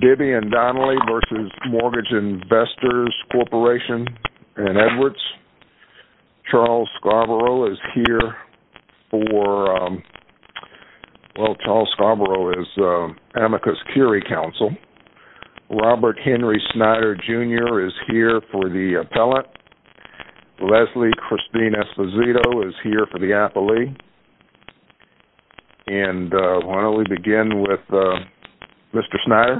Bibby & Donnelly v. Mortgage Investors Corporation, Edwards Charles Scarborough v. Amicus Curie Council Robert Henry Snyder Jr. v. Appellant Leslie Christine Esposito v. Appellee And why don't we begin with Mr. Snyder?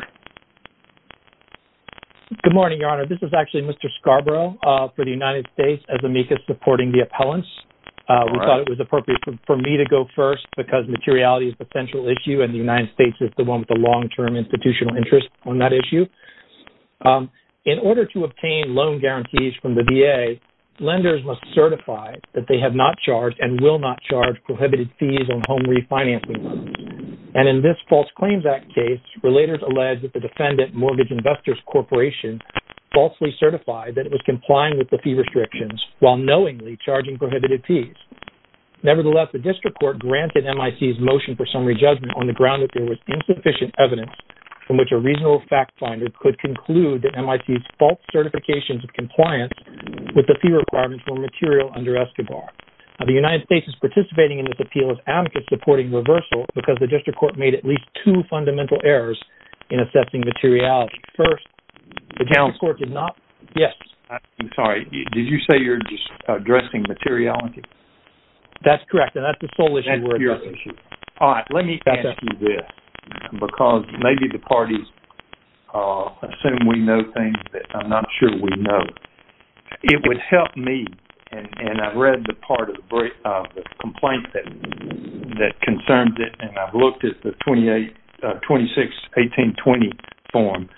Good morning, Your Honor. This is actually Mr. Scarborough for the United States as Amicus supporting the appellants. We thought it was appropriate for me to go first because materiality is the central issue and the United States is the one with the long-term institutional interest on that issue. In order to obtain loan guarantees from the VA, lenders must certify that they have not charged and will not charge prohibited fees on home refinancing loans. And in this False Claims Act case, relators alleged that the defendant, Mortgage Investors Corporation, falsely certified that it was complying with the fee restrictions while knowingly charging prohibited fees. Nevertheless, the District Court granted MIC's motion for summary judgment on the ground that there was insufficient evidence from which a reasonable fact finder could conclude that MIC's false certifications of compliance with the fee requirements were material under ESCBAR. The United States is participating in this appeal as Amicus supporting reversal because the District Court made at least two fundamental errors in assessing materiality. The District Court did not? Yes. I'm sorry. Did you say you're just addressing materiality? That's correct. And that's the sole issue. All right. Let me ask you this. Because maybe the parties assume we know things that I'm not sure we know. And I've read the part of the complaint that concerns it, and I've looked at the 26-18-20 form.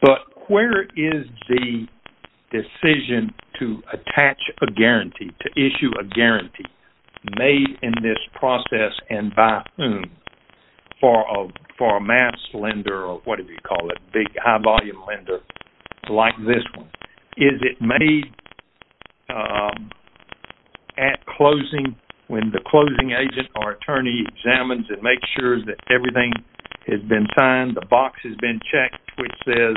But where is the decision to attach a guarantee, to issue a guarantee, made in this process and by whom, for a mass lender or whatever you call it, big high-volume lender like this one? Is it made at closing, when the closing agent or attorney examines it, makes sure that everything has been signed, the box has been checked, which says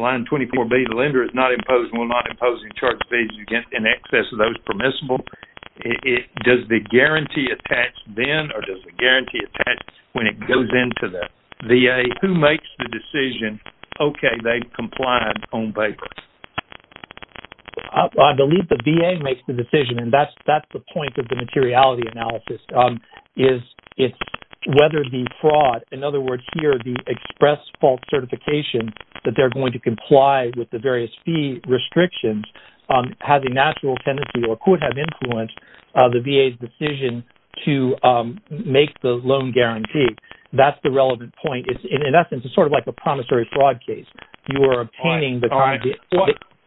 line 24B, the lender is not imposing, will not impose, and charges fees in excess of those permissible? Does the guarantee attach then or does the guarantee attach when it goes into the VA? Who makes the decision, okay, they've complied on paper? I believe the VA makes the decision, and that's the point of the materiality analysis. It's whether the fraud, in other words, here, the express fault certification that they're going to comply with the various fee restrictions, has a natural tendency or could have influenced the VA's decision to make the loan guarantee. That's the relevant point. In essence, it's sort of like a promissory fraud case. You are obtaining the guarantee.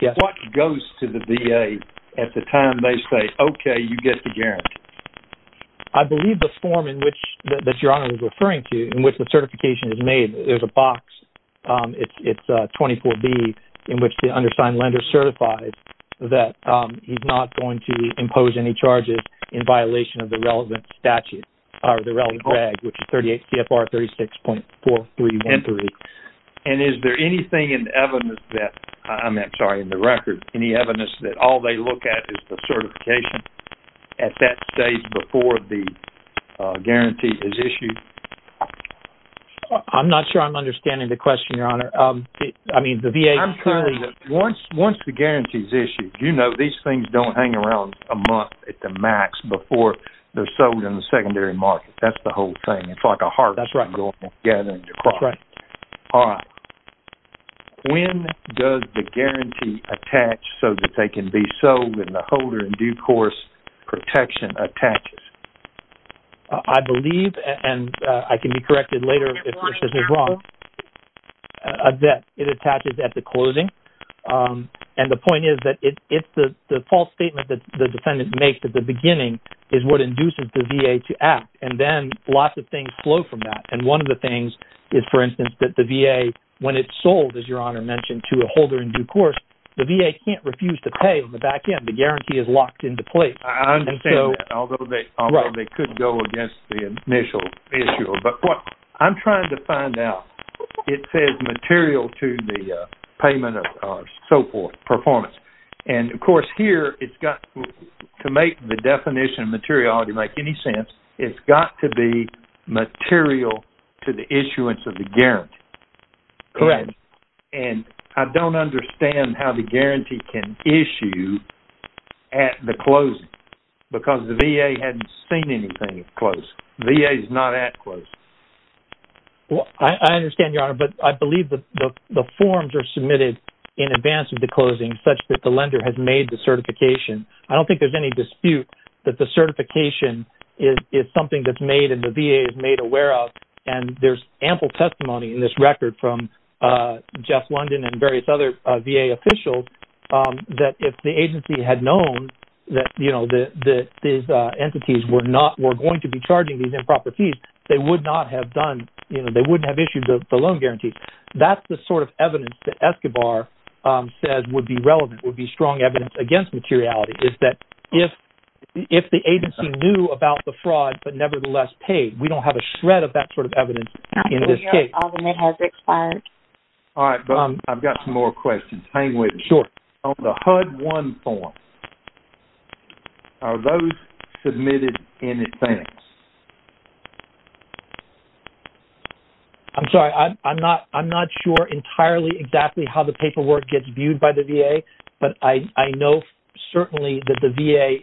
What goes to the VA at the time they say, okay, you get the guarantee? I believe the form in which, that Your Honor is referring to, in which the certification is made, there's a box, it's 24B, in which the undersigned lender certifies that he's not going to impose any charges in violation of the relevant statute, or the relevant drag, which is 38 CFR 36.4313. And is there anything in evidence that, I'm sorry, in the record, any evidence that all they look at is the certification at that stage before the guarantee is issued? I'm not sure I'm understanding the question, Your Honor. I mean, the VA clearly... Once the guarantee is issued, you know, these things don't hang around a month at the max before they're sold in the secondary market. That's the whole thing. It's like a heart. That's right. It's like an ongoing gathering of crops. That's right. All right. When does the guarantee attach so that they can be sold when the holder in due course protection attaches? I believe, and I can be corrected later if this is wrong, that it attaches at the closing. And the point is that it's the false statement that the defendant makes at the beginning is what induces the VA to act. And then lots of things flow from that. And one of the things is, for instance, that the VA, when it's sold, as Your Honor mentioned, to a holder in due course, the VA can't refuse to pay on the back end. The guarantee is locked into place. I understand that, although they could go against the initial issue. But what I'm trying to find out, it says material to the payment of so forth, performance. And, of course, here it's got to make the definition of materiality make any sense. It's got to be material to the issuance of the guarantee. Correct. And I don't understand how the guarantee can issue at the closing because the VA hadn't seen anything close. VA is not at close. I understand, Your Honor, but I believe that the forms are submitted in advance of the closing such that the lender has made the certification. I don't think there's any dispute that the certification is something that's made and the VA is made aware of. And there's ample testimony in this record from Jeff London and various other VA officials that if the agency had known that these entities were going to be charging these improper fees, they wouldn't have issued the loan guarantees. That's the sort of evidence that Escobar says would be relevant, would be strong evidence against materiality, is that if the agency knew about the fraud but nevertheless paid, we don't have a shred of that sort of evidence in this case. All right, but I've got some more questions. Hang with me. Sure. On the HUD-1 form, are those submitted in advance? I'm sorry. I'm not sure entirely exactly how the paperwork gets viewed by the VA, but I know certainly that the VA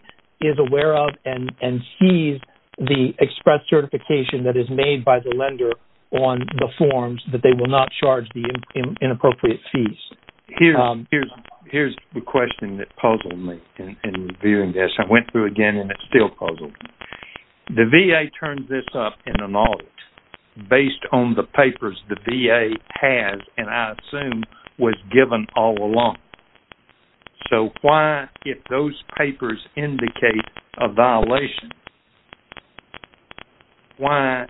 is aware of and sees the express certification that is made by the lender on the forms that they will not charge the inappropriate fees. Here's the question that puzzled me in viewing this. I went through again and it's still puzzled me. The VA turns this up in an audit based on the papers the VA has and I assume was given all along. So why, if those papers indicate a violation, why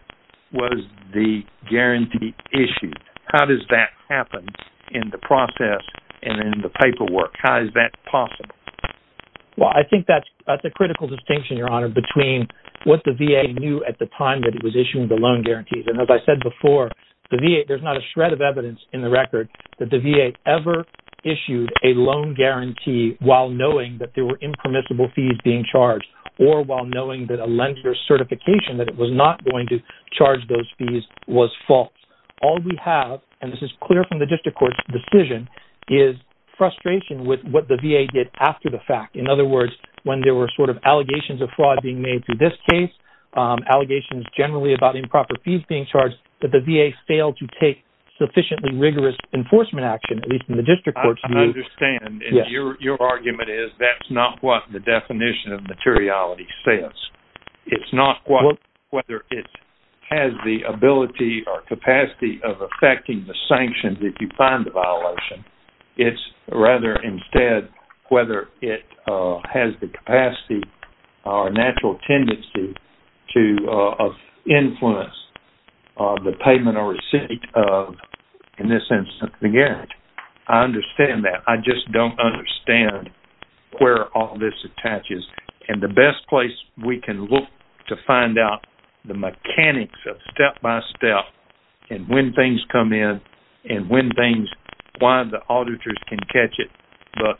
was the guarantee issued? How does that happen in the process and in the paperwork? How is that possible? Well, I think that's a critical distinction, Your Honor, between what the VA knew at the time that it was issuing the loan guarantees. And as I said before, there's not a shred of evidence in the record that the VA ever issued a loan guarantee while knowing that there were impermissible fees being charged or while knowing that a lender's certification that it was not going to charge those fees was false. All we have, and this is clear from the district court's decision, is frustration with what the VA did after the fact. In other words, when there were sort of allegations of fraud being made to this case, allegations generally about improper fees being charged, that the VA failed to take sufficiently rigorous enforcement action, at least in the district court's view. I understand. And your argument is that's not what the definition of materiality says. It's not whether it has the ability or capacity of affecting the sanctions if you find the violation. It's rather, instead, whether it has the capacity or natural tendency to influence the payment or receipt of, in this instance, the guarantee. I understand that. I just don't understand where all this attaches. And the best place we can look to find out the mechanics of step-by-step and when things come in and why the auditors can catch it but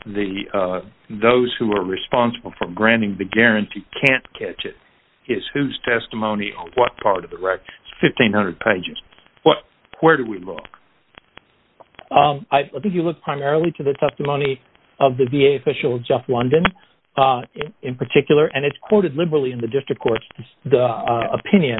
those who are responsible for granting the guarantee can't catch it is whose testimony on what part of the record. It's 1,500 pages. Where do we look? I think you look primarily to the testimony of the VA official, Jeff London, in particular. And it's quoted liberally in the district court's opinion.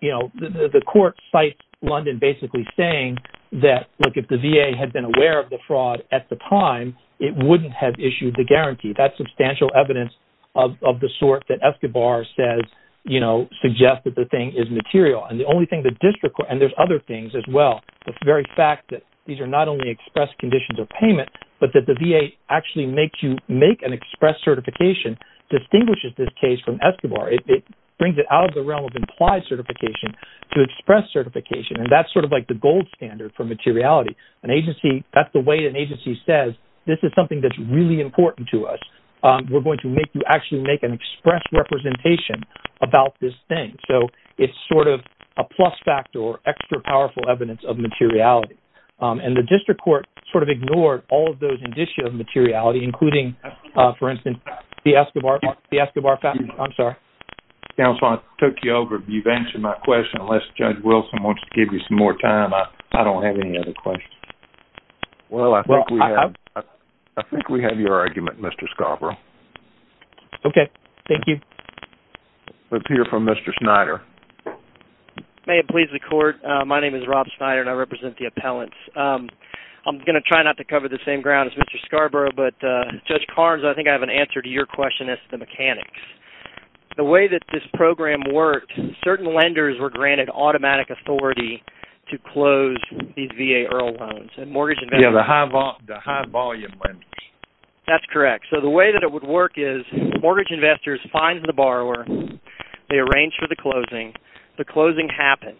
You know, the court cites London basically saying that, look, if the VA had been aware of the fraud at the time, it wouldn't have issued the guarantee. That's substantial evidence of the sort that Escobar says, you know, suggests that the thing is material. And the only thing the district court, and there's other things as well, the very fact that these are not only express conditions of payment but that the VA actually makes you make an express certification distinguishes this case from Escobar. It brings it out of the realm of implied certification to express certification. And that's sort of like the gold standard for materiality. That's the way an agency says, this is something that's really important to us. We're going to make you actually make an express representation about this thing. And so it's sort of a plus factor or extra powerful evidence of materiality. And the district court sort of ignored all of those indicia of materiality, including, for instance, the Escobar fact. I'm sorry. Counsel, I took you over. You've answered my question. Unless Judge Wilson wants to give you some more time, I don't have any other questions. Well, I think we have your argument, Mr. Scarborough. Okay. Thank you. Let's hear from Mr. Schneider. May it please the court, my name is Rob Schneider, and I represent the appellants. I'm going to try not to cover the same ground as Mr. Scarborough, but Judge Carnes, I think I have an answer to your question as to the mechanics. The way that this program worked, certain lenders were granted automatic authority to close these VA EARL loans. Yeah, the high-volume lenders. That's correct. So the way that it would work is mortgage investors find the borrower, they arrange for the closing, the closing happens.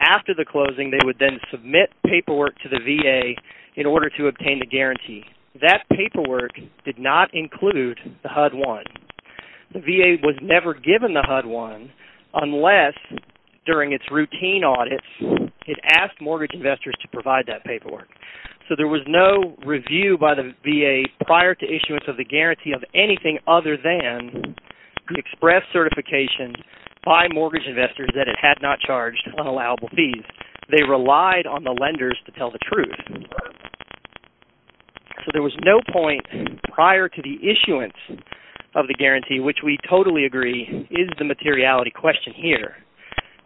After the closing, they would then submit paperwork to the VA in order to obtain the guarantee. That paperwork did not include the HUD-1. The VA was never given the HUD-1 unless, during its routine audits, it asked mortgage investors to provide that paperwork. So there was no review by the VA prior to issuance of the guarantee of anything other than express certification by mortgage investors that it had not charged unallowable fees. They relied on the lenders to tell the truth. So there was no point prior to the issuance of the guarantee, which we totally agree is the materiality question here.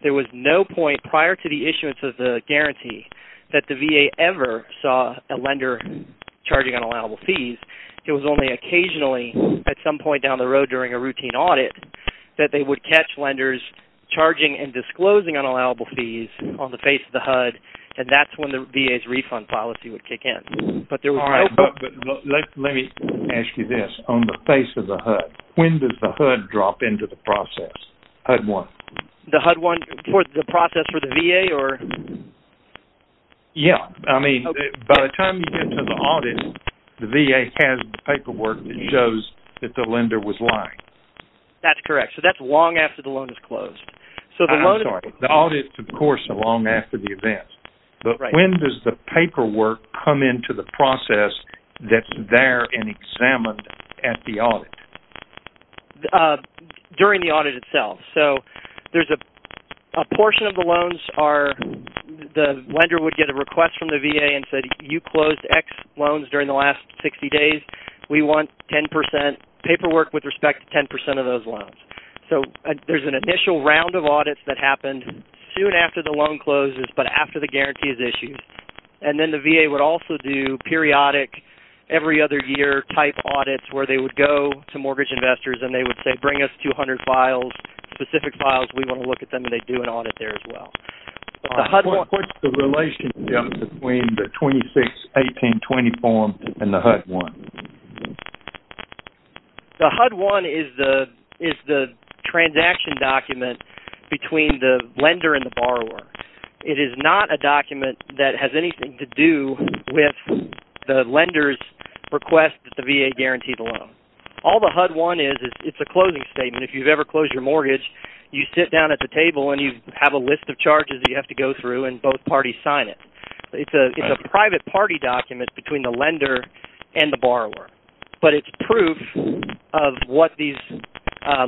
There was no point prior to the issuance of the guarantee that the VA ever saw a lender charging unallowable fees. It was only occasionally at some point down the road during a routine audit that they would catch lenders charging and disclosing unallowable fees on the face of the HUD, and that's when the VA's refund policy would kick in. Let me ask you this. On the face of the HUD, when does the HUD drop into the process? HUD-1. The HUD-1 process for the VA? Yeah. I mean, by the time you get to the audit, the VA has the paperwork that shows that the lender was lying. That's correct. So that's long after the loan is closed. I'm sorry. The audit, of course, is long after the event. But when does the paperwork come into the process that's there and examined at the audit? During the audit itself. So there's a portion of the loans are the lender would get a request from the VA and say, you closed X loans during the last 60 days. We want 10% paperwork with respect to 10% of those loans. So there's an initial round of audits that happen soon after the loan closes, but after the guarantee is issued. And then the VA would also do periodic, every-other-year type audits where they would go to mortgage investors and they would say, bring us 200 files, specific files. We want to look at them, and they'd do an audit there as well. What's the relationship between the 26-18-20 form and the HUD-1? The HUD-1 is the transaction document between the lender and the borrower. It is not a document that has anything to do with the lender's request that the VA guarantee the loan. All the HUD-1 is, it's a closing statement. If you've ever closed your mortgage, you sit down at the table and you have a list of charges you have to go through, and both parties sign it. It's a private party document between the lender and the borrower, but it's proof of what these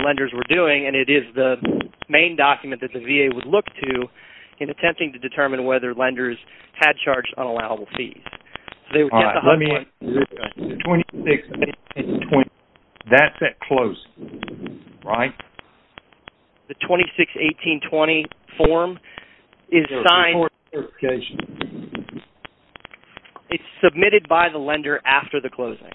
lenders were doing, and it is the main document that the VA would look to in attempting to determine whether lenders had charged unallowable fees. All right, let me answer this question. The 26-18-20, that's that close, right? The 26-18-20 form is signed... It's submitted by the lender after the closing,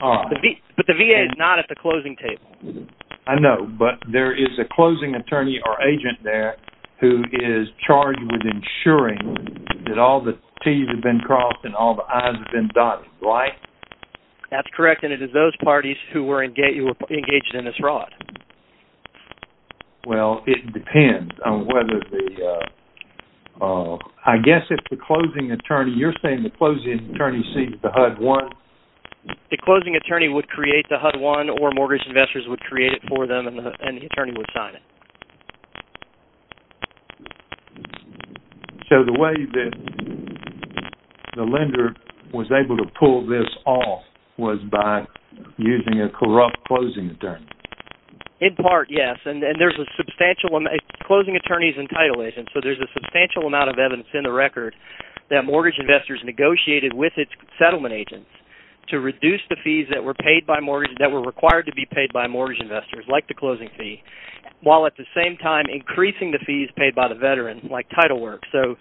but the VA is not at the closing table. I know, but there is a closing attorney or agent there who is charged with ensuring that all the T's have been crossed and all the I's have been dotted, right? That's correct, and it is those parties who were engaged in this fraud. Well, it depends on whether the... I guess if the closing attorney, you're saying the closing attorney sees the HUD-1? The closing attorney would create the HUD-1, or mortgage investors would create it for them, and the attorney would sign it. So the way that the lender was able to pull this off was by using a corrupt closing attorney. In part, yes, and there's a substantial... Closing attorneys and title agents, so there's a substantial amount of evidence in the record that mortgage investors negotiated with its settlement agents to reduce the fees that were paid by mortgage... that were required to be paid by mortgage investors, like the closing fee, while at the same time increasing the fees paid by the veteran, like title work. So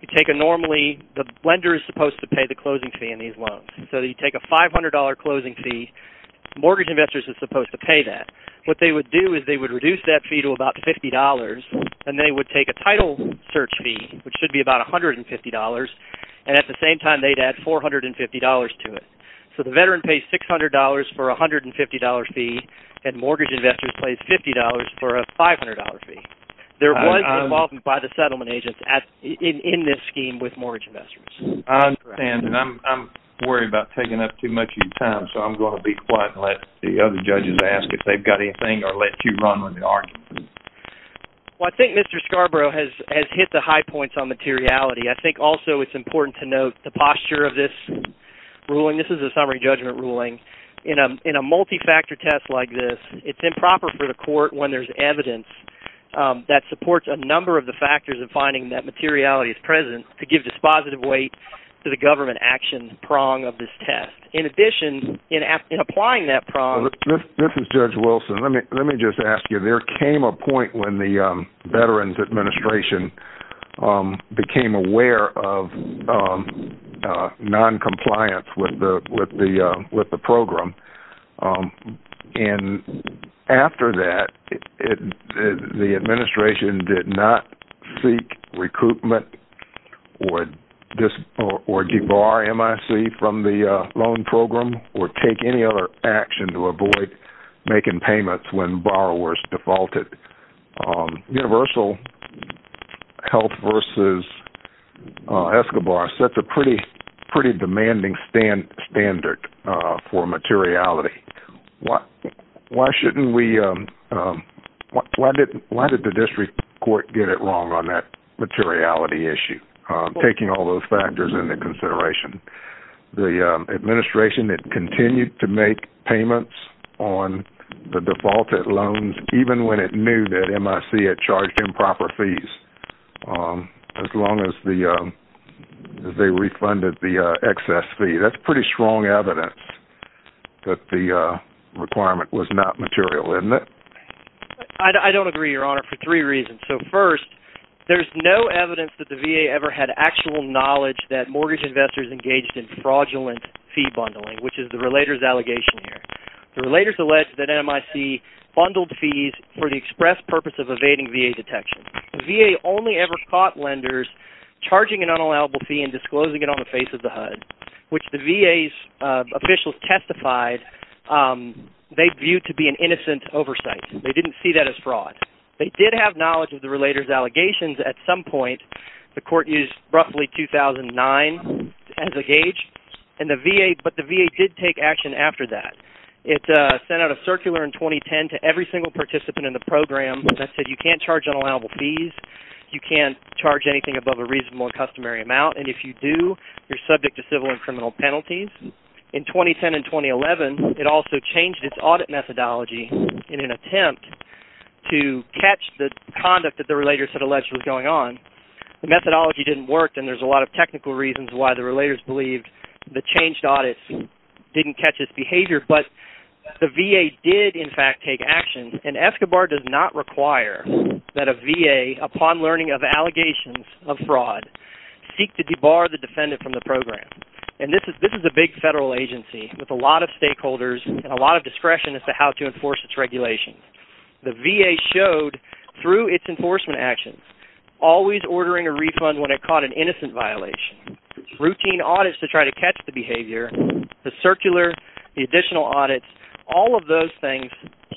you take a normally... the lender is supposed to pay the closing fee on these loans. So you take a $500 closing fee. Mortgage investors are supposed to pay that. What they would do is they would reduce that fee to about $50, and they would take a title search fee, which should be about $150, and at the same time they'd add $450 to it. So the veteran pays $600 for a $150 fee, and mortgage investors pay $50 for a $500 fee. There was involvement by the settlement agents in this scheme with mortgage investors. Well, I think Mr. Scarborough has hit the high points on materiality. I think also it's important to note the posture of this ruling. This is a summary judgment ruling. In a multi-factor test like this, it's improper for the court, when there's evidence that supports a number of the factors of finding that materiality is present, to give dispositive weight to the government action prong of this test. In addition, in applying that prong... This is Judge Wilson. Let me just ask you. There came a point when the Veterans Administration became aware of noncompliance with the program, and after that, the administration did not seek recoupment or debar MIC from the loan program or take any other action to avoid making payments when borrowers defaulted. Universal Health v. Escobar sets a pretty demanding standard for materiality. Why did the district court get it wrong on that materiality issue, taking all those factors into consideration? The administration continued to make payments on the defaulted loans, even when it knew that MIC had charged improper fees, as long as they refunded the excess fee. That's pretty strong evidence that the requirement was not material, isn't it? I don't agree, Your Honor, for three reasons. First, there's no evidence that the VA ever had actual knowledge that mortgage investors engaged in fraudulent fee bundling, which is the relator's allegation here. The relator's alleged that MIC bundled fees for the express purpose of evading VA detection. The VA only ever caught lenders charging an unallowable fee and disclosing it on the face of the HUD, which the VA's officials testified they viewed to be an innocent oversight. They didn't see that as fraud. They did have knowledge of the relator's allegations at some point. The court used roughly 2009 as a gauge, but the VA did take action after that. It sent out a circular in 2010 to every single participant in the program that said, you can't charge unallowable fees, you can't charge anything above a reasonable and customary amount, and if you do, you're subject to civil and criminal penalties. In 2010 and 2011, it also changed its audit methodology in an attempt to catch the conduct that the relator said allegedly was going on. The methodology didn't work, and there's a lot of technical reasons why the relators believed the changed audit didn't catch its behavior. But the VA did, in fact, take action, and Escobar does not require that a VA, upon learning of allegations of fraud, seek to debar the defendant from the program. And this is a big federal agency with a lot of stakeholders and a lot of discretion as to how to enforce its regulations. The VA showed, through its enforcement actions, always ordering a refund when it caught an innocent violation, routine audits to try to catch the behavior, the circular, the additional audits, all of those things,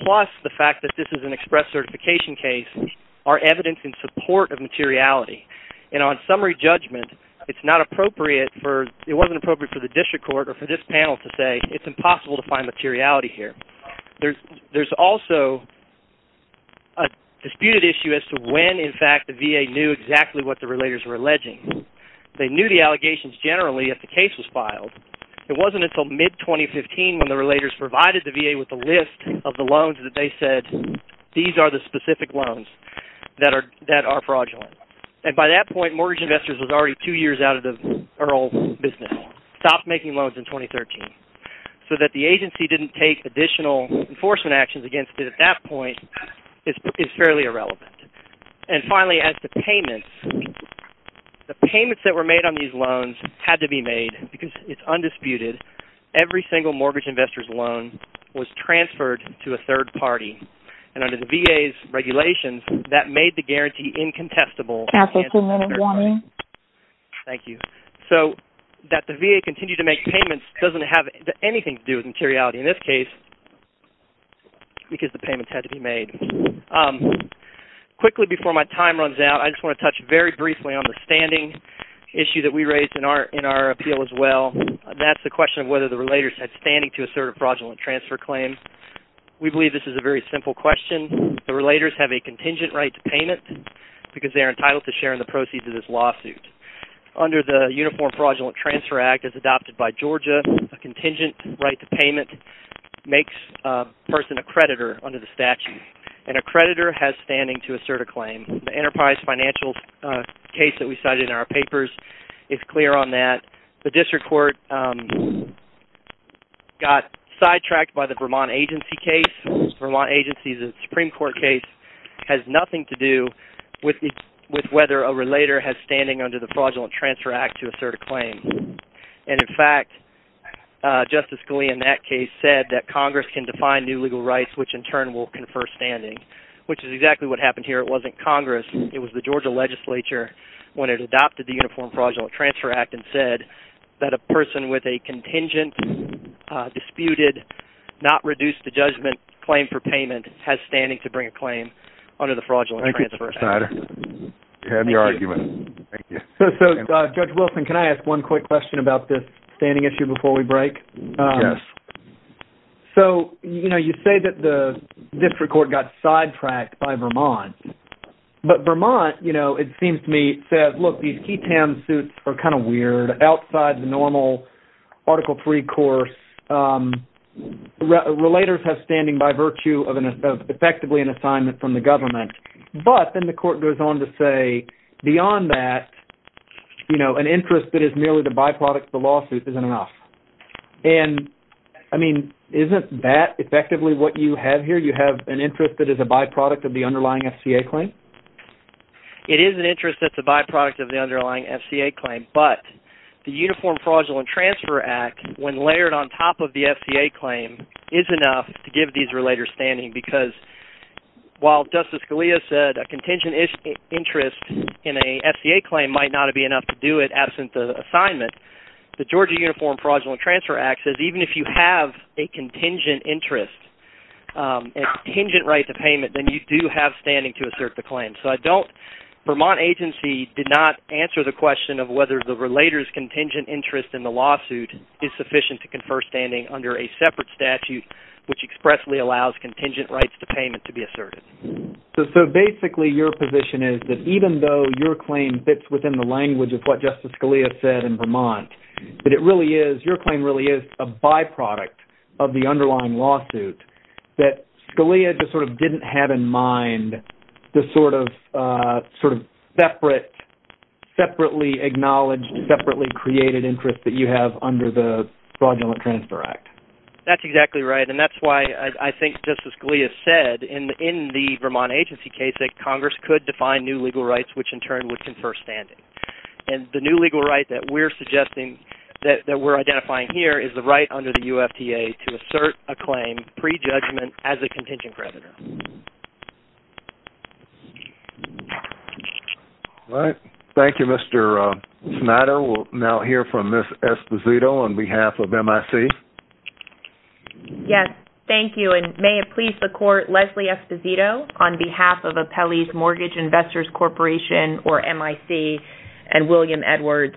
plus the fact that this is an express certification case, are evidence in support of materiality. And on summary judgment, it wasn't appropriate for the district court or for this panel to say, it's impossible to find materiality here. There's also a disputed issue as to when, in fact, the VA knew exactly what the relators were alleging. They knew the allegations generally if the case was filed. It wasn't until mid-2015 when the relators provided the VA with a list of the loans that they said, these are the specific loans that are fraudulent. And by that point, Mortgage Investors was already two years out of their old business, stopped making loans in 2013. So that the agency didn't take additional enforcement actions against it at that point is fairly irrelevant. And finally, as to payments, the payments that were made on these loans had to be made because it's undisputed. Every single Mortgage Investors loan was transferred to a third party. And under the VA's regulations, that made the guarantee incontestable. Thank you. So that the VA continued to make payments doesn't have anything to do with materiality in this case because the payments had to be made. Quickly, before my time runs out, I just want to touch very briefly on the standing issue that we raised in our appeal as well. That's the question of whether the relators had standing to assert a fraudulent transfer claim. We believe this is a very simple question. The relators have a contingent right to payment because they are entitled to share in the proceeds of this lawsuit. Under the Uniform Fraudulent Transfer Act as adopted by Georgia, a contingent right to payment makes a person a creditor under the statute. And a creditor has standing to assert a claim. The enterprise financial case that we cited in our papers is clear on that. The district court got sidetracked by the Vermont Agency case. Vermont Agency's Supreme Court case has nothing to do with whether a relator has standing under the Fraudulent Transfer Act to assert a claim. And in fact, Justice Scalia in that case said that Congress can define new legal rights which in turn will confer standing, which is exactly what happened here. It wasn't Congress. It was the Georgia legislature when it adopted the Uniform Fraudulent Transfer Act and said that a person with a contingent, disputed, not reduced to judgment claim for payment has standing to bring a claim under the Fraudulent Transfer Act. Thank you, Mr. Snyder. You had your argument. Thank you. So, Judge Wilson, can I ask one quick question about this standing issue before we break? Yes. So, you know, you say that the district court got sidetracked by Vermont. But Vermont, you know, it seems to me says, look, these key town suits are kind of weird, outside the normal Article III course. Relators have standing by virtue of effectively an assignment from the government. But then the court goes on to say beyond that, you know, an interest that is merely the byproduct of the lawsuit isn't enough. And, I mean, isn't that effectively what you have here? You have an interest that is a byproduct of the underlying FCA claim? It is an interest that's a byproduct of the underlying FCA claim. But the Uniform Fraudulent Transfer Act, when layered on top of the FCA claim, is enough to give these relators standing. Because while Justice Scalia said a contingent interest in a FCA claim might not be enough to do it absent the assignment, the Georgia Uniform Fraudulent Transfer Act says even if you have a contingent interest, a contingent right to payment, then you do have standing to assert the claim. So I don't, Vermont agency did not answer the question of whether the relator's contingent interest in the lawsuit is sufficient to confer standing under a separate statute, which expressly allows contingent rights to payment to be asserted. So basically your position is that even though your claim fits within the language of what Justice Scalia said in Vermont, that it really is, your claim really is a byproduct of the underlying lawsuit, that Scalia just sort of didn't have in mind the sort of separate, separately acknowledged, separately created interest that you have under the Fraudulent Transfer Act. That's exactly right, and that's why I think Justice Scalia said in the Vermont agency case that Congress could define new legal rights which in turn would confer standing. And the new legal right that we're suggesting, that we're identifying here, is the right under the UFTA to assert a claim pre-judgment as a contingent creditor. All right. Thank you, Mr. Snyder. We'll now hear from Ms. Esposito on behalf of MIC. Yes, thank you, and may it please the Court, Leslie Esposito on behalf of Apelli's Mortgage Investors Corporation, or MIC, and William Edwards.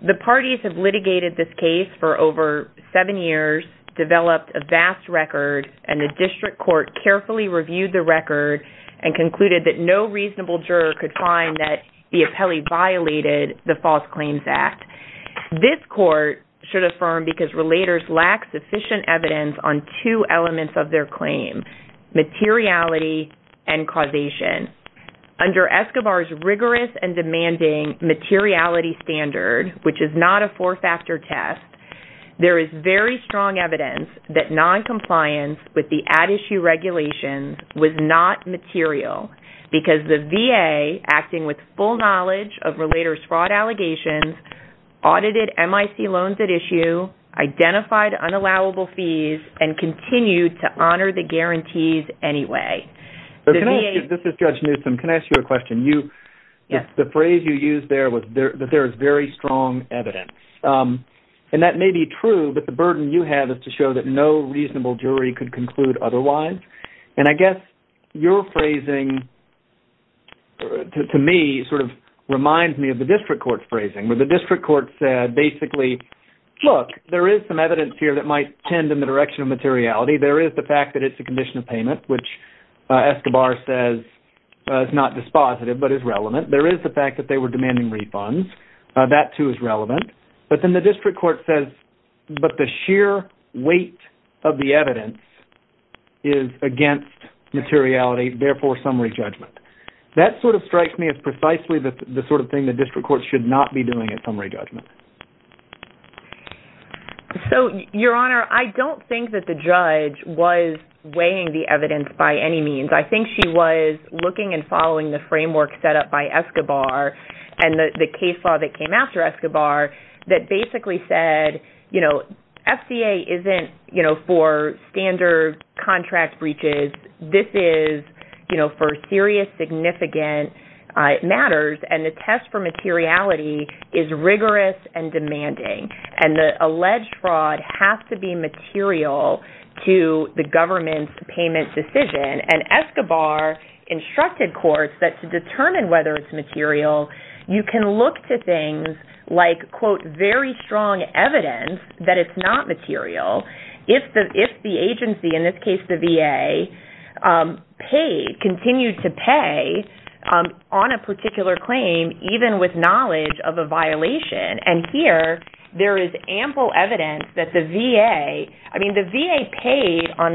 The parties have litigated this case for over seven years, developed a vast record, and the district court carefully reviewed the record and concluded that no reasonable juror could find that the Apelli violated the False Claims Act. This court should affirm because relators lack sufficient evidence on two elements of their claim, materiality and causation. Under Escobar's rigorous and demanding materiality standard, which is not a four-factor test, there is very strong evidence that noncompliance with the at-issue regulations was not material because the VA, acting with full knowledge of relators' fraud allegations, audited MIC loans at issue, identified unallowable fees, and continued to honor the guarantees anyway. This is Judge Newsom. Can I ask you a question? Yes. The phrase you used there was that there is very strong evidence, and that may be true, but the burden you have is to show that no reasonable jury could conclude otherwise, and I guess your phrasing, to me, sort of reminds me of the district court's phrasing, where the district court said basically, look, there is some evidence here that might tend in the direction of materiality. There is the fact that it's a condition of payment, which Escobar says is not dispositive but is relevant. There is the fact that they were demanding refunds. That, too, is relevant. But then the district court says, but the sheer weight of the evidence is against materiality, therefore summary judgment. That sort of strikes me as precisely the sort of thing the district court should not be doing at summary judgment. Your Honor, I don't think that the judge was weighing the evidence by any means. I think she was looking and following the framework set up by Escobar and the case law that came after Escobar that basically said, FCA isn't for standard contract breaches. This is for serious, significant matters, and the test for materiality is rigorous and demanding, and the alleged fraud has to be material to the government's payment decision. And Escobar instructed courts that to determine whether it's material, you can look to things like, quote, very strong evidence that it's not material if the agency, in this case the VA, paid, continued to pay on a particular claim even with knowledge of a violation. And here, there is ample evidence that the VA, I mean, the VA paid on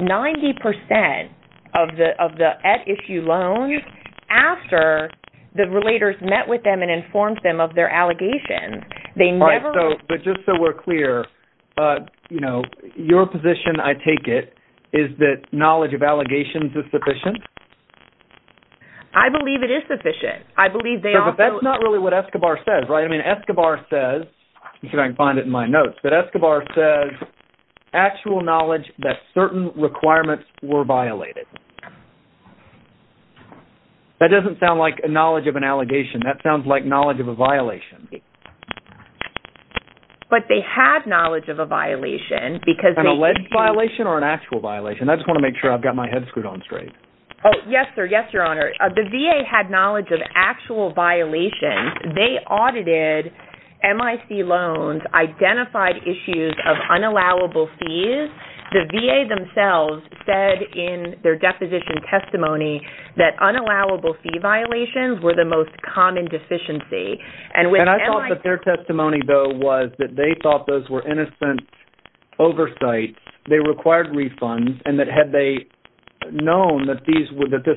90% of the at-issue loans after the relators met with them and informed them of their allegations. But just so we're clear, you know, your position, I take it, is that knowledge of allegations is sufficient? I believe it is sufficient. I believe they also... It says, right, I mean, Escobar says, let's see if I can find it in my notes, but Escobar says, actual knowledge that certain requirements were violated. That doesn't sound like knowledge of an allegation. That sounds like knowledge of a violation. But they had knowledge of a violation because they... An alleged violation or an actual violation? I just want to make sure I've got my head screwed on straight. Oh, yes, sir. Yes, Your Honor. The VA had knowledge of actual violations. They audited MIC loans, identified issues of unallowable fees. The VA themselves said in their deposition testimony that unallowable fee violations were the most common deficiency. And I thought that their testimony, though, was that they thought those were innocent oversights. They required refunds, and that had they known that this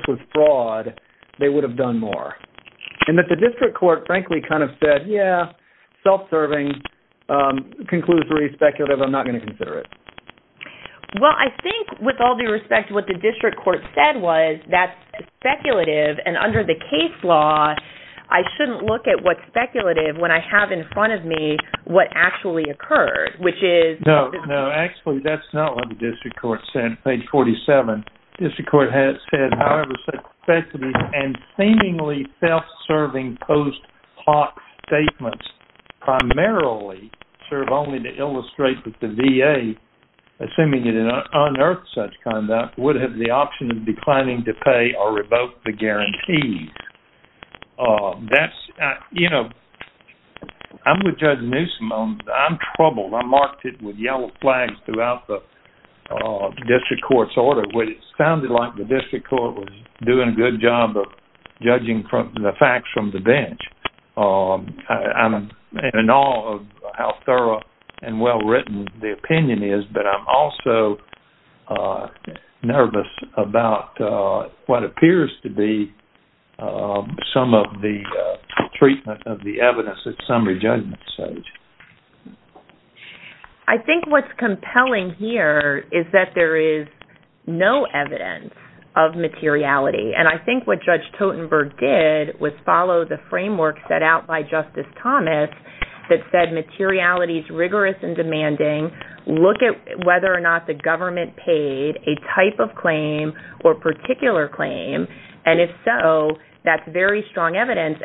was fraud, they would have done more. And that the district court, frankly, kind of said, yeah, self-serving, conclusory, speculative. I'm not going to consider it. Well, I think with all due respect to what the district court said was, that's speculative. And under the case law, I shouldn't look at what's speculative when I have in front of me what actually occurred, which is... No, no. Actually, that's not what the district court said, page 47. District court has said, however, that speculative and seemingly self-serving post hoc statements primarily serve only to illustrate that the VA, assuming it unearthed such conduct, would have the option of declining to pay or revoke the guarantees. That's, you know, I'm with Judge Newsom. I'm troubled. I marked it with yellow flags throughout the district court's order, which sounded like the district court was doing a good job of judging the facts from the bench. I'm in awe of how thorough and well-written the opinion is. But I'm also nervous about what appears to be some of the treatment of the evidence at summary judgment stage. I think what's compelling here is that there is no evidence of materiality. And I think what Judge Totenberg did was follow the framework set out by Justice Thomas that said materiality is rigorous and demanding. Look at whether or not the government paid a type of claim or particular claim. And if so, that's very strong evidence.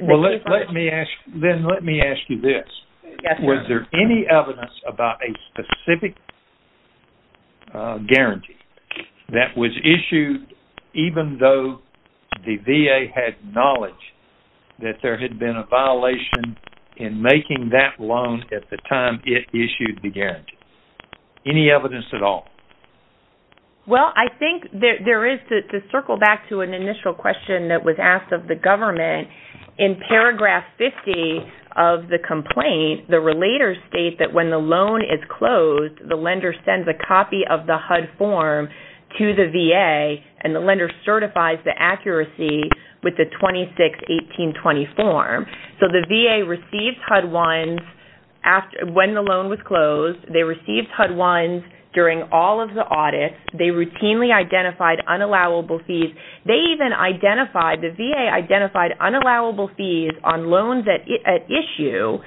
Well, let me ask you this. Was there any evidence about a specific guarantee that was issued even though the VA had knowledge that there had been a violation in making that loan at the time it issued the guarantee? Any evidence at all? Well, I think there is to circle back to an initial question that was asked of the government. In paragraph 50 of the complaint, the relators state that when the loan is closed, the lender sends a copy of the HUD form to the VA, and the lender certifies the accuracy with the 261820 form. So the VA received HUD I's when the loan was closed. They received HUD I's during all of the audits. They routinely identified unallowable fees. They even identified, the VA identified unallowable fees on loans at issue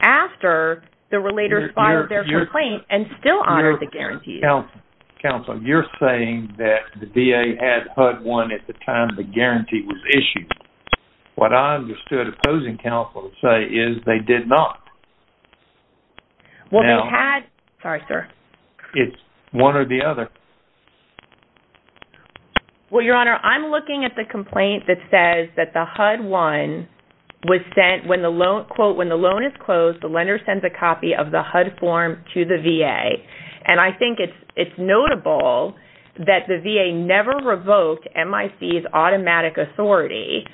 after the relator filed their complaint and still honored the guarantee. Counsel, you're saying that the VA had HUD I at the time the guarantee was issued. What I understood opposing counsel to say is they did not. Well, they had. Sorry, sir. It's one or the other. Well, Your Honor, I'm looking at the complaint that says that the HUD I was sent when the loan, quote, when the loan is closed, the lender sends a copy of the HUD form to the VA. And I think it's notable that the VA never revoked MIC's automatic authority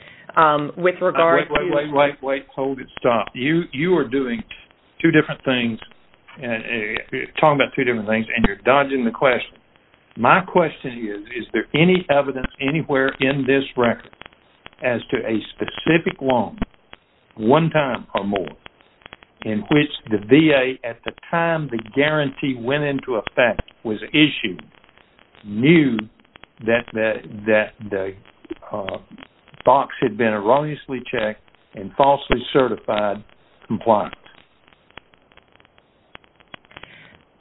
with regard to- Wait, wait, wait, wait. Hold it. Stop. You are doing two different things, talking about two different things, and you're dodging the question. My question is, is there any evidence anywhere in this record as to a specific loan, one time or more, in which the VA, at the time the guarantee went into effect, was issued, knew that the box had been erroneously checked and falsely certified compliant?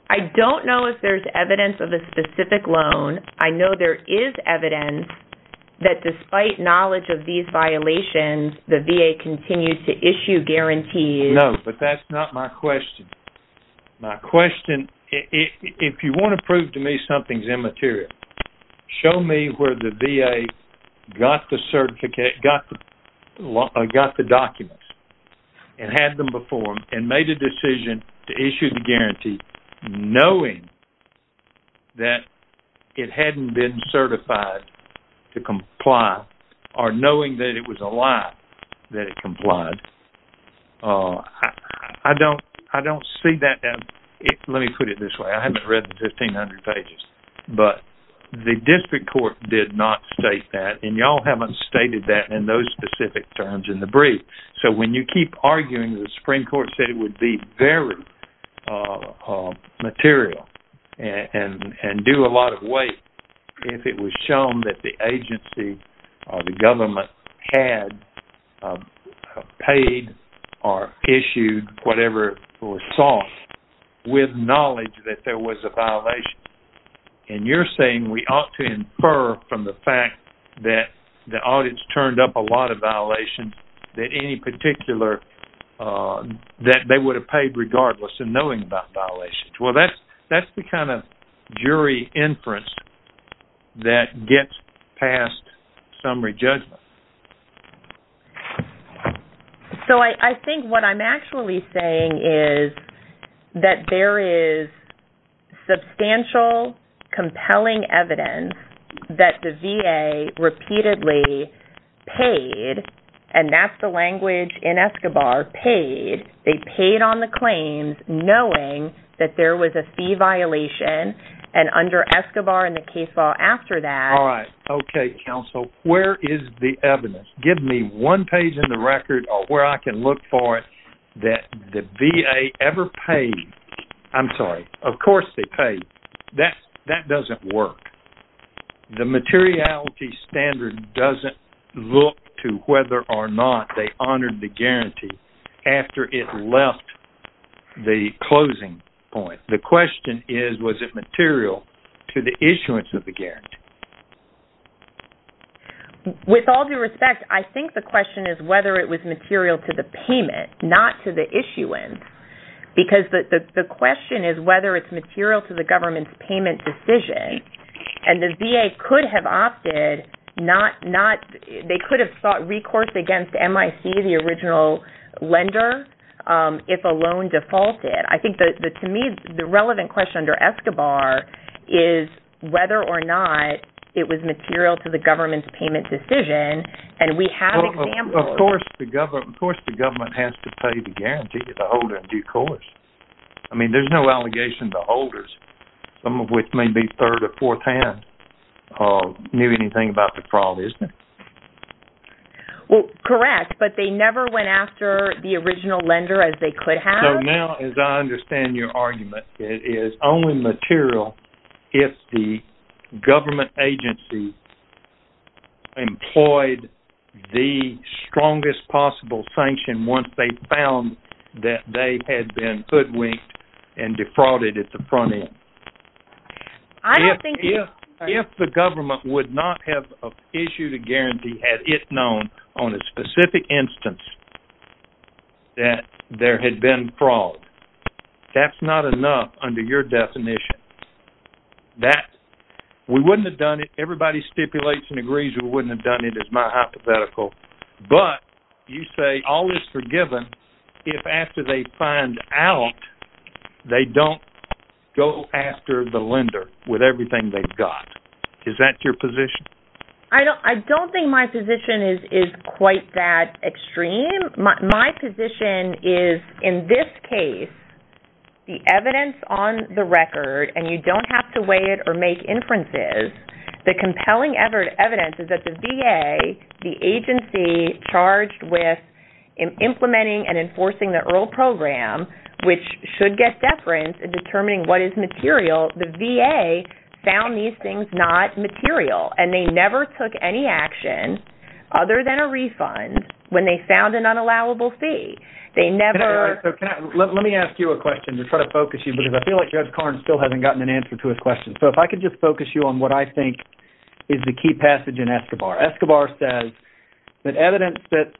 I don't know if there's evidence of a specific loan. I know there is evidence that despite knowledge of these violations, the VA continues to issue guarantees- No, but that's not my question. My question, if you want to prove to me something's immaterial, show me where the VA got the certificate, got the documents and had them performed, and made a decision to issue the guarantee knowing that it hadn't been certified to comply, or knowing that it was a lie that it complied. I don't see that- Let me put it this way. I haven't read the 1,500 pages. But the district court did not state that, and y'all haven't stated that in those specific terms in the brief. So when you keep arguing, the Supreme Court said it would be very material and do a lot of weight if it was shown that the agency or the government had paid or issued whatever was sought with knowledge that there was a violation. And you're saying we ought to infer from the fact that the audience turned up a lot of violations that they would have paid regardless in knowing about violations. Well, that's the kind of jury inference that gets past summary judgment. So I think what I'm actually saying is that there is substantial, compelling evidence that the VA repeatedly paid, and that's the language in Escobar, paid. They paid on the claims knowing that there was a fee violation, and under Escobar and the case law after that- Give me one page in the record where I can look for it that the VA ever paid-I'm sorry, of course they paid. That doesn't work. The materiality standard doesn't look to whether or not they honored the guarantee after it left the closing point. The question is, was it material to the issuance of the guarantee? With all due respect, I think the question is whether it was material to the payment, not to the issuance, because the question is whether it's material to the government's payment decision. And the VA could have opted not-they could have sought recourse against MIC, the original lender, if a loan defaulted. I think, to me, the relevant question under Escobar is whether or not it was material to the government's payment decision, and we have examples- Of course the government has to pay the guarantee to the holder in due course. I mean, there's no allegation to holders, some of which may be third or fourth hand, knew anything about the fraud, isn't there? Well, correct, but they never went after the original lender as they could have. So now, as I understand your argument, it is only material if the government agency employed the strongest possible sanction once they found that they had been hoodwinked and defrauded at the front end. If the government would not have issued a guarantee had it known on a specific instance that there had been fraud, that's not enough under your definition. We wouldn't have done it. Everybody stipulates and agrees we wouldn't have done it, is my hypothetical. But, you say all is forgiven if after they find out, they don't go after the lender with everything they've got. Is that your position? I don't think my position is quite that extreme. My position is, in this case, the evidence on the record, and you don't have to weigh it or make inferences, the compelling evidence is that the VA, the agency charged with implementing and enforcing the EARL program, which should get deference in determining what is material, the VA found these things not material, and they never took any action other than a refund when they found an unallowable fee. Let me ask you a question to try to focus you, because I feel like Judge Karnes still hasn't gotten an answer to his question. So if I could just focus you on what I think is the key passage in Escobar. Escobar says that evidence that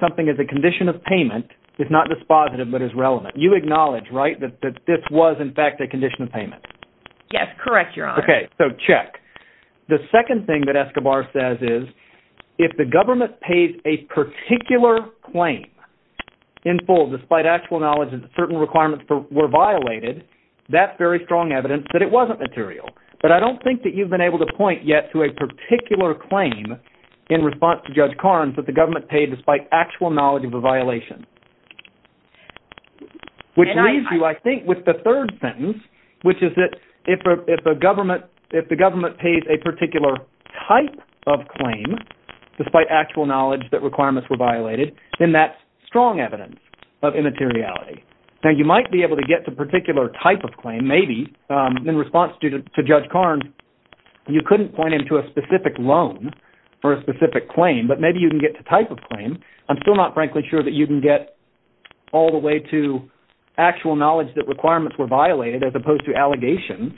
something is a condition of payment is not dispositive but is relevant. You acknowledge, right, that this was, in fact, a condition of payment? Yes, correct, Your Honor. Okay, so check. The second thing that Escobar says is, if the government pays a particular claim in full, despite actual knowledge that certain requirements were violated, that's very strong evidence that it wasn't material, but I don't think that you've been able to point yet to a particular claim in response to Judge Karnes that the government paid despite actual knowledge of a violation. Which leaves you, I think, with the third sentence, which is that if the government pays a particular type of claim, despite actual knowledge that requirements were violated, then that's strong evidence of immateriality. Now, you might be able to get to a particular type of claim, maybe, in response to Judge Karnes. You couldn't point him to a specific loan for a specific claim, but maybe you can get to a type of claim. I'm still not, frankly, sure that you can get all the way to actual knowledge that requirements were violated as opposed to allegations.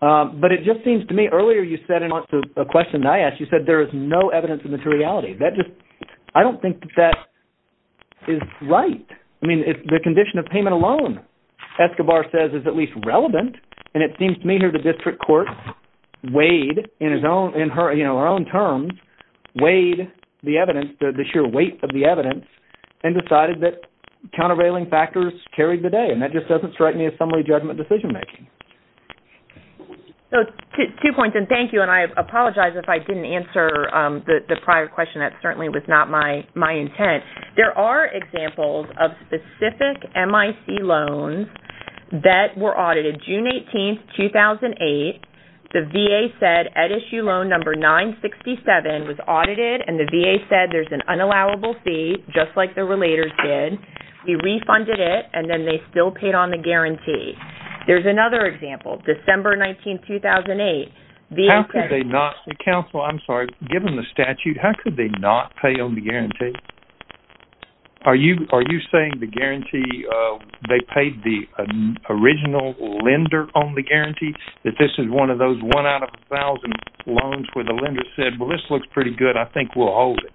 But it just seems to me, earlier you said in response to a question that I asked, you said there is no evidence of immateriality. I don't think that that is right. I mean, the condition of payment alone, Escobar says, is at least relevant. And it seems to me here the district court weighed, in her own terms, weighed the evidence, the sheer weight of the evidence, and decided that countervailing factors carried the day. And that just doesn't strike me as summary judgment decision making. Two points, and thank you, and I apologize if I didn't answer the prior question. That certainly was not my intent. There are examples of specific MIC loans that were audited June 18, 2008. The VA said, at issue loan number 967 was audited, and the VA said there's an unallowable fee, just like the relators did. We refunded it, and then they still paid on the guarantee. There's another example, December 19, 2008. How could they not, counsel, I'm sorry, given the statute, how could they not pay on the guarantee? Are you saying the guarantee, they paid the original lender on the guarantee? That this is one of those one out of a thousand loans where the lender said, well, this looks pretty good. I think we'll hold it.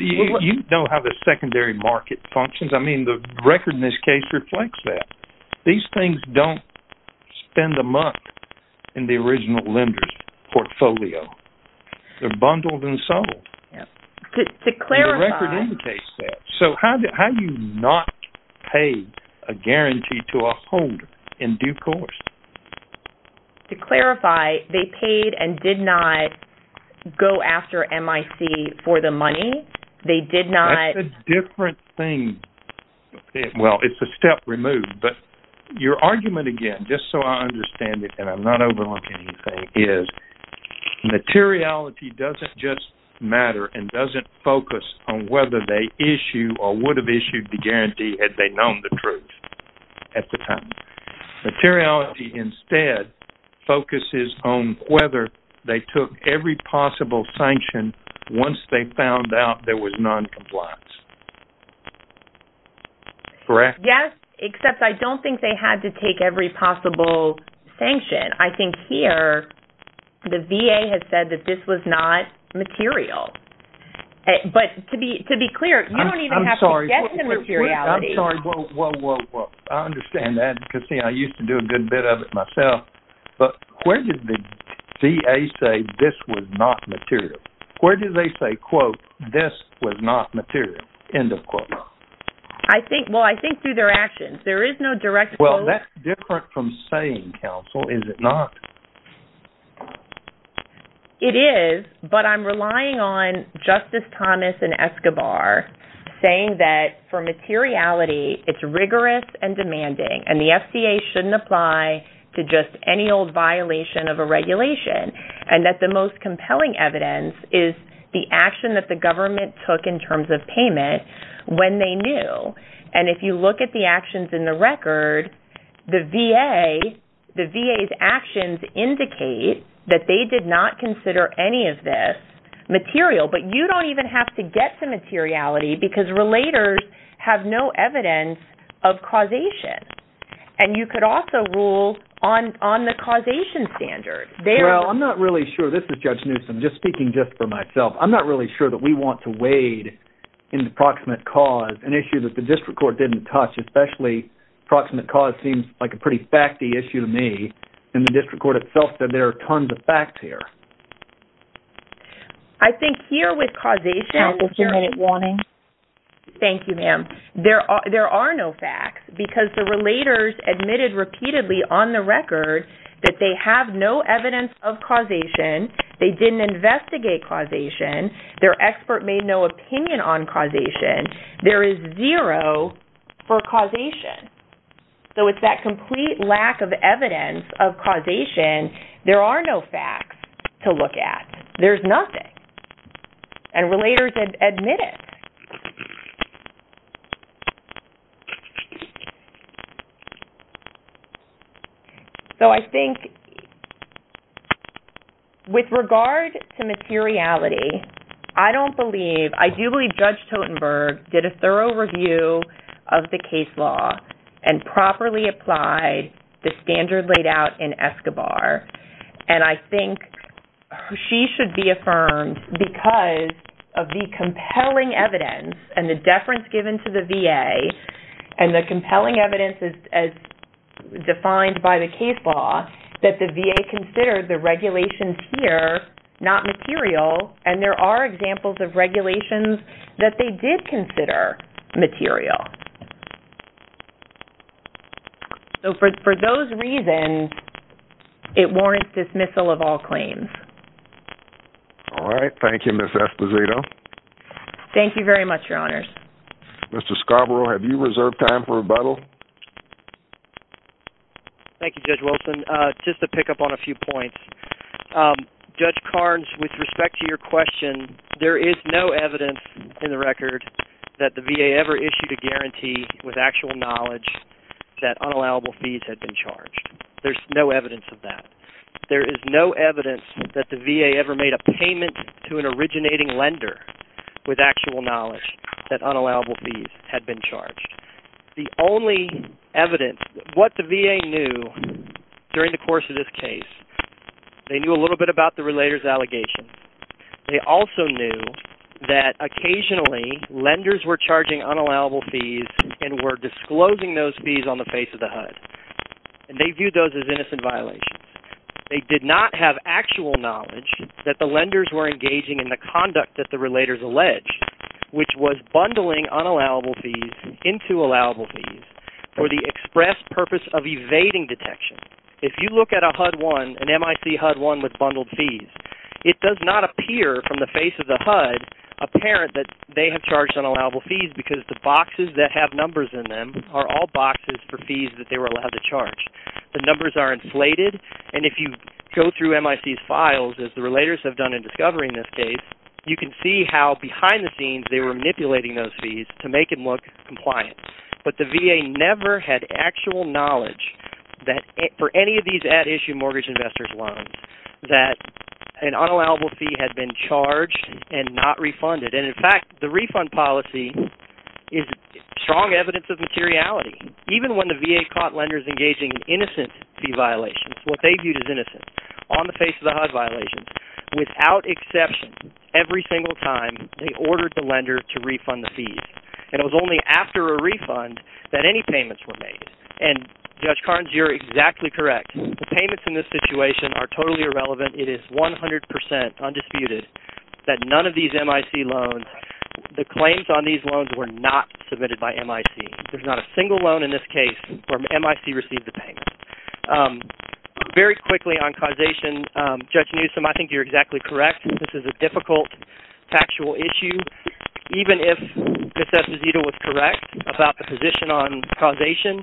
You know how the secondary market functions. I mean, the record in this case reflects that. These things don't spend a month in the original lender's portfolio. They're bundled and sold. To clarify. The record indicates that. So how do you not pay a guarantee to a holder in due course? To clarify, they paid and did not go after MIC for the money? They did not. That's a different thing. Well, it's a step removed, but your argument again, just so I understand it, and I'm not overlooking anything, is materiality doesn't just matter and doesn't focus on whether they issue or would have issued the guarantee had they known the truth at the time. Materiality instead focuses on whether they took every possible sanction once they found out there was noncompliance. Correct? Yes, except I don't think they had to take every possible sanction. I think here the VA has said that this was not material. But to be clear, you don't even have to get to materiality. I'm sorry. Whoa, whoa, whoa. I understand that because, see, I used to do a good bit of it myself. But where did the VA say this was not material? Where did they say, quote, this was not material, end of quote? Well, I think through their actions. There is no direct quote. Well, that's different from saying, counsel, is it not? It is, but I'm relying on Justice Thomas and Escobar saying that for materiality, it's rigorous and demanding, and the FCA shouldn't apply to just any old violation of a regulation, and that the most compelling evidence is the action that the government took in terms of payment when they knew. And if you look at the actions in the record, the VA's actions indicate that they did not consider any of this material. But you don't even have to get to materiality because relators have no evidence of causation. And you could also rule on the causation standard. Well, I'm not really sure. This is Judge Newsom, just speaking just for myself. I'm not really sure that we want to wade into proximate cause, an issue that the district court didn't touch, especially proximate cause seems like a pretty facty issue to me, and the district court itself said there are tons of facts here. I think here with causation, thank you, ma'am. There are no facts because the relators admitted repeatedly on the record that they have no evidence of causation, they didn't investigate causation, their expert made no opinion on causation, there is zero for causation. So it's that complete lack of evidence of causation. There are no facts to look at. There's nothing. And relators admit it. So I think with regard to materiality, I don't believe, I do believe Judge Totenberg did a thorough review of the case law and properly applied the standard laid out in Escobar, and I think she should be affirmed because of the compelling evidence and the deference given to the VA and the compelling evidence as defined by the case law that the VA considered the regulations here not material, and there are examples of regulations that they did consider material. So for those reasons, it warrants dismissal of all claims. All right. Thank you, Ms. Esposito. Thank you very much, Your Honors. Mr. Scarborough, have you reserved time for rebuttal? Thank you, Judge Wilson. Just to pick up on a few points, Judge Carnes, with respect to your question, there is no evidence in the record that the VA ever issued a guarantee with actual knowledge that unallowable fees had been charged. There's no evidence of that. There is no evidence that the VA ever made a payment to an originating lender with actual knowledge that unallowable fees had been charged. The only evidence, what the VA knew during the course of this case, they knew a little bit about the relator's allegation. They also knew that occasionally lenders were charging unallowable fees and were disclosing those fees on the face of the HUD, and they viewed those as innocent violations. They did not have actual knowledge that the lenders were engaging in the conduct that the relators alleged, which was bundling unallowable fees into allowable fees for the express purpose of evading detection. If you look at a HUD-1, an MIC HUD-1 with bundled fees, it does not appear from the face of the HUD apparent that they have charged unallowable fees because the boxes that have numbers in them are all boxes for fees that they were allowed to charge. The numbers are insulated, and if you go through MIC's files, as the relators have done in discovering this case, you can see how behind the scenes they were manipulating those fees to make it look compliant. But the VA never had actual knowledge for any of these at-issue mortgage investors' loans that an unallowable fee had been charged and not refunded. In fact, the refund policy is strong evidence of materiality. Even when the VA caught lenders engaging in innocent fee violations, what they viewed as innocent, on the face of the HUD violations, without exception, every single time, they ordered the lender to refund the fees. And it was only after a refund that any payments were made. And Judge Carnes, you're exactly correct. The payments in this situation are totally irrelevant. It is 100% undisputed that none of these MIC loans, the claims on these loans were not submitted by MIC. There's not a single loan in this case where MIC received the payment. Very quickly on causation, Judge Newsom, I think you're exactly correct. This is a difficult factual issue. Even if Ms. Esposito was correct about the position on causation,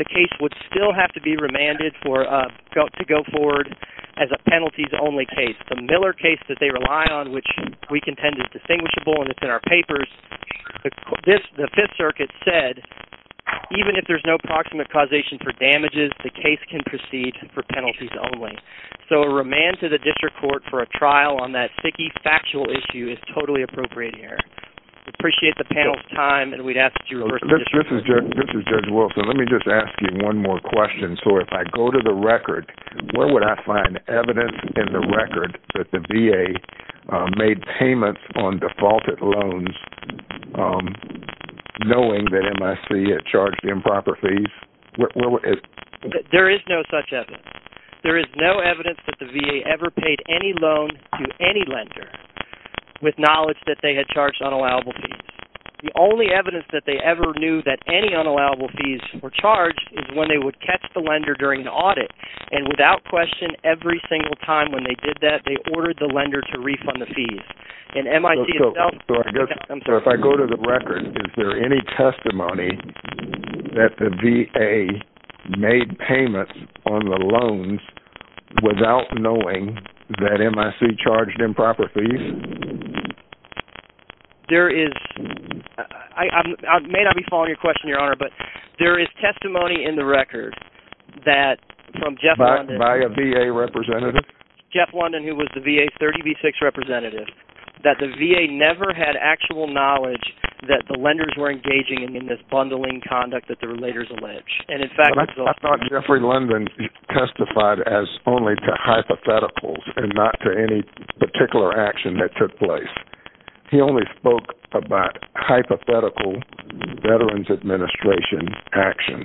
the case would still have to be remanded to go forward as a penalties-only case. The Miller case that they rely on, which we contend is distinguishable and it's in our papers, the Fifth Circuit said even if there's no proximate causation for damages, the case can proceed for penalties only. So a remand to the district court for a trial on that sticky factual issue is totally appropriate here. Appreciate the panel's time, and we'd ask that you refer to the district court. This is Judge Wilson. Let me just ask you one more question. So if I go to the record, where would I find evidence in the record that the VA made payments on defaulted loans, knowing that MIC had charged improper fees? There is no such evidence. There is no evidence that the VA ever paid any loan to any lender with knowledge that they had charged unallowable fees. The only evidence that they ever knew that any unallowable fees were charged is when they would catch the lender during the audit. And without question, every single time when they did that, they ordered the lender to refund the fees. So if I go to the record, is there any testimony that the VA made payments on the loans without knowing that MIC charged improper fees? There is. I may not be following your question, Your Honor, but there is testimony in the record that from Jeff London. By a VA representative? Jeff London, who was the VA's 30B6 representative, that the VA never had actual knowledge that the lenders were engaging in this bundling conduct that the relators allege. I thought Jeffrey London testified as only to hypotheticals and not to any particular action that took place. He only spoke about hypothetical Veterans Administration action.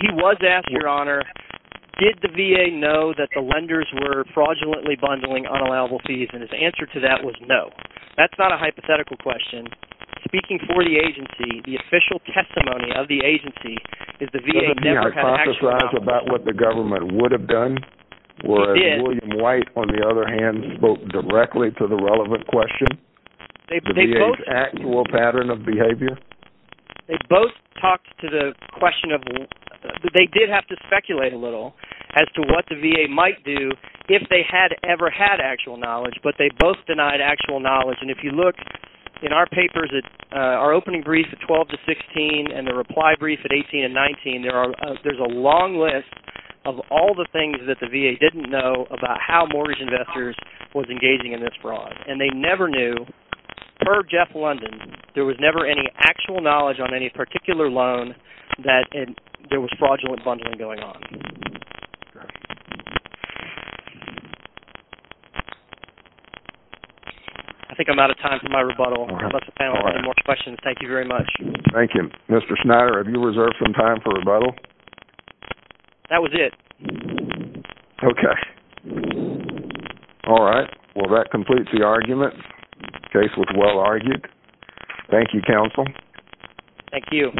He was asked, Your Honor, did the VA know that the lenders were fraudulently bundling unallowable fees? And his answer to that was no. That's not a hypothetical question. Speaking for the agency, the official testimony of the agency is the VA never had actual knowledge. Doesn't he hypothesize about what the government would have done? He did. Would William White, on the other hand, spoke directly to the relevant question? The VA's actual pattern of behavior? They both talked to the question of, they did have to speculate a little as to what the VA might do if they had ever had actual knowledge. But they both denied actual knowledge. And if you look in our papers, our opening brief at 12 to 16 and the reply brief at 18 and 19, there's a long list of all the things that the VA didn't know about how mortgage investors were engaging in this fraud. And they never knew, per Jeff London, there was never any actual knowledge on any particular loan that there was fraudulent bundling going on. I think I'm out of time for my rebuttal. I'd like the panel to have more questions. Thank you very much. Thank you. Mr. Schneider, have you reserved some time for rebuttal? That was it. Okay. All right. Well, that completes the argument. The case was well argued. Thank you, counsel. Thank you.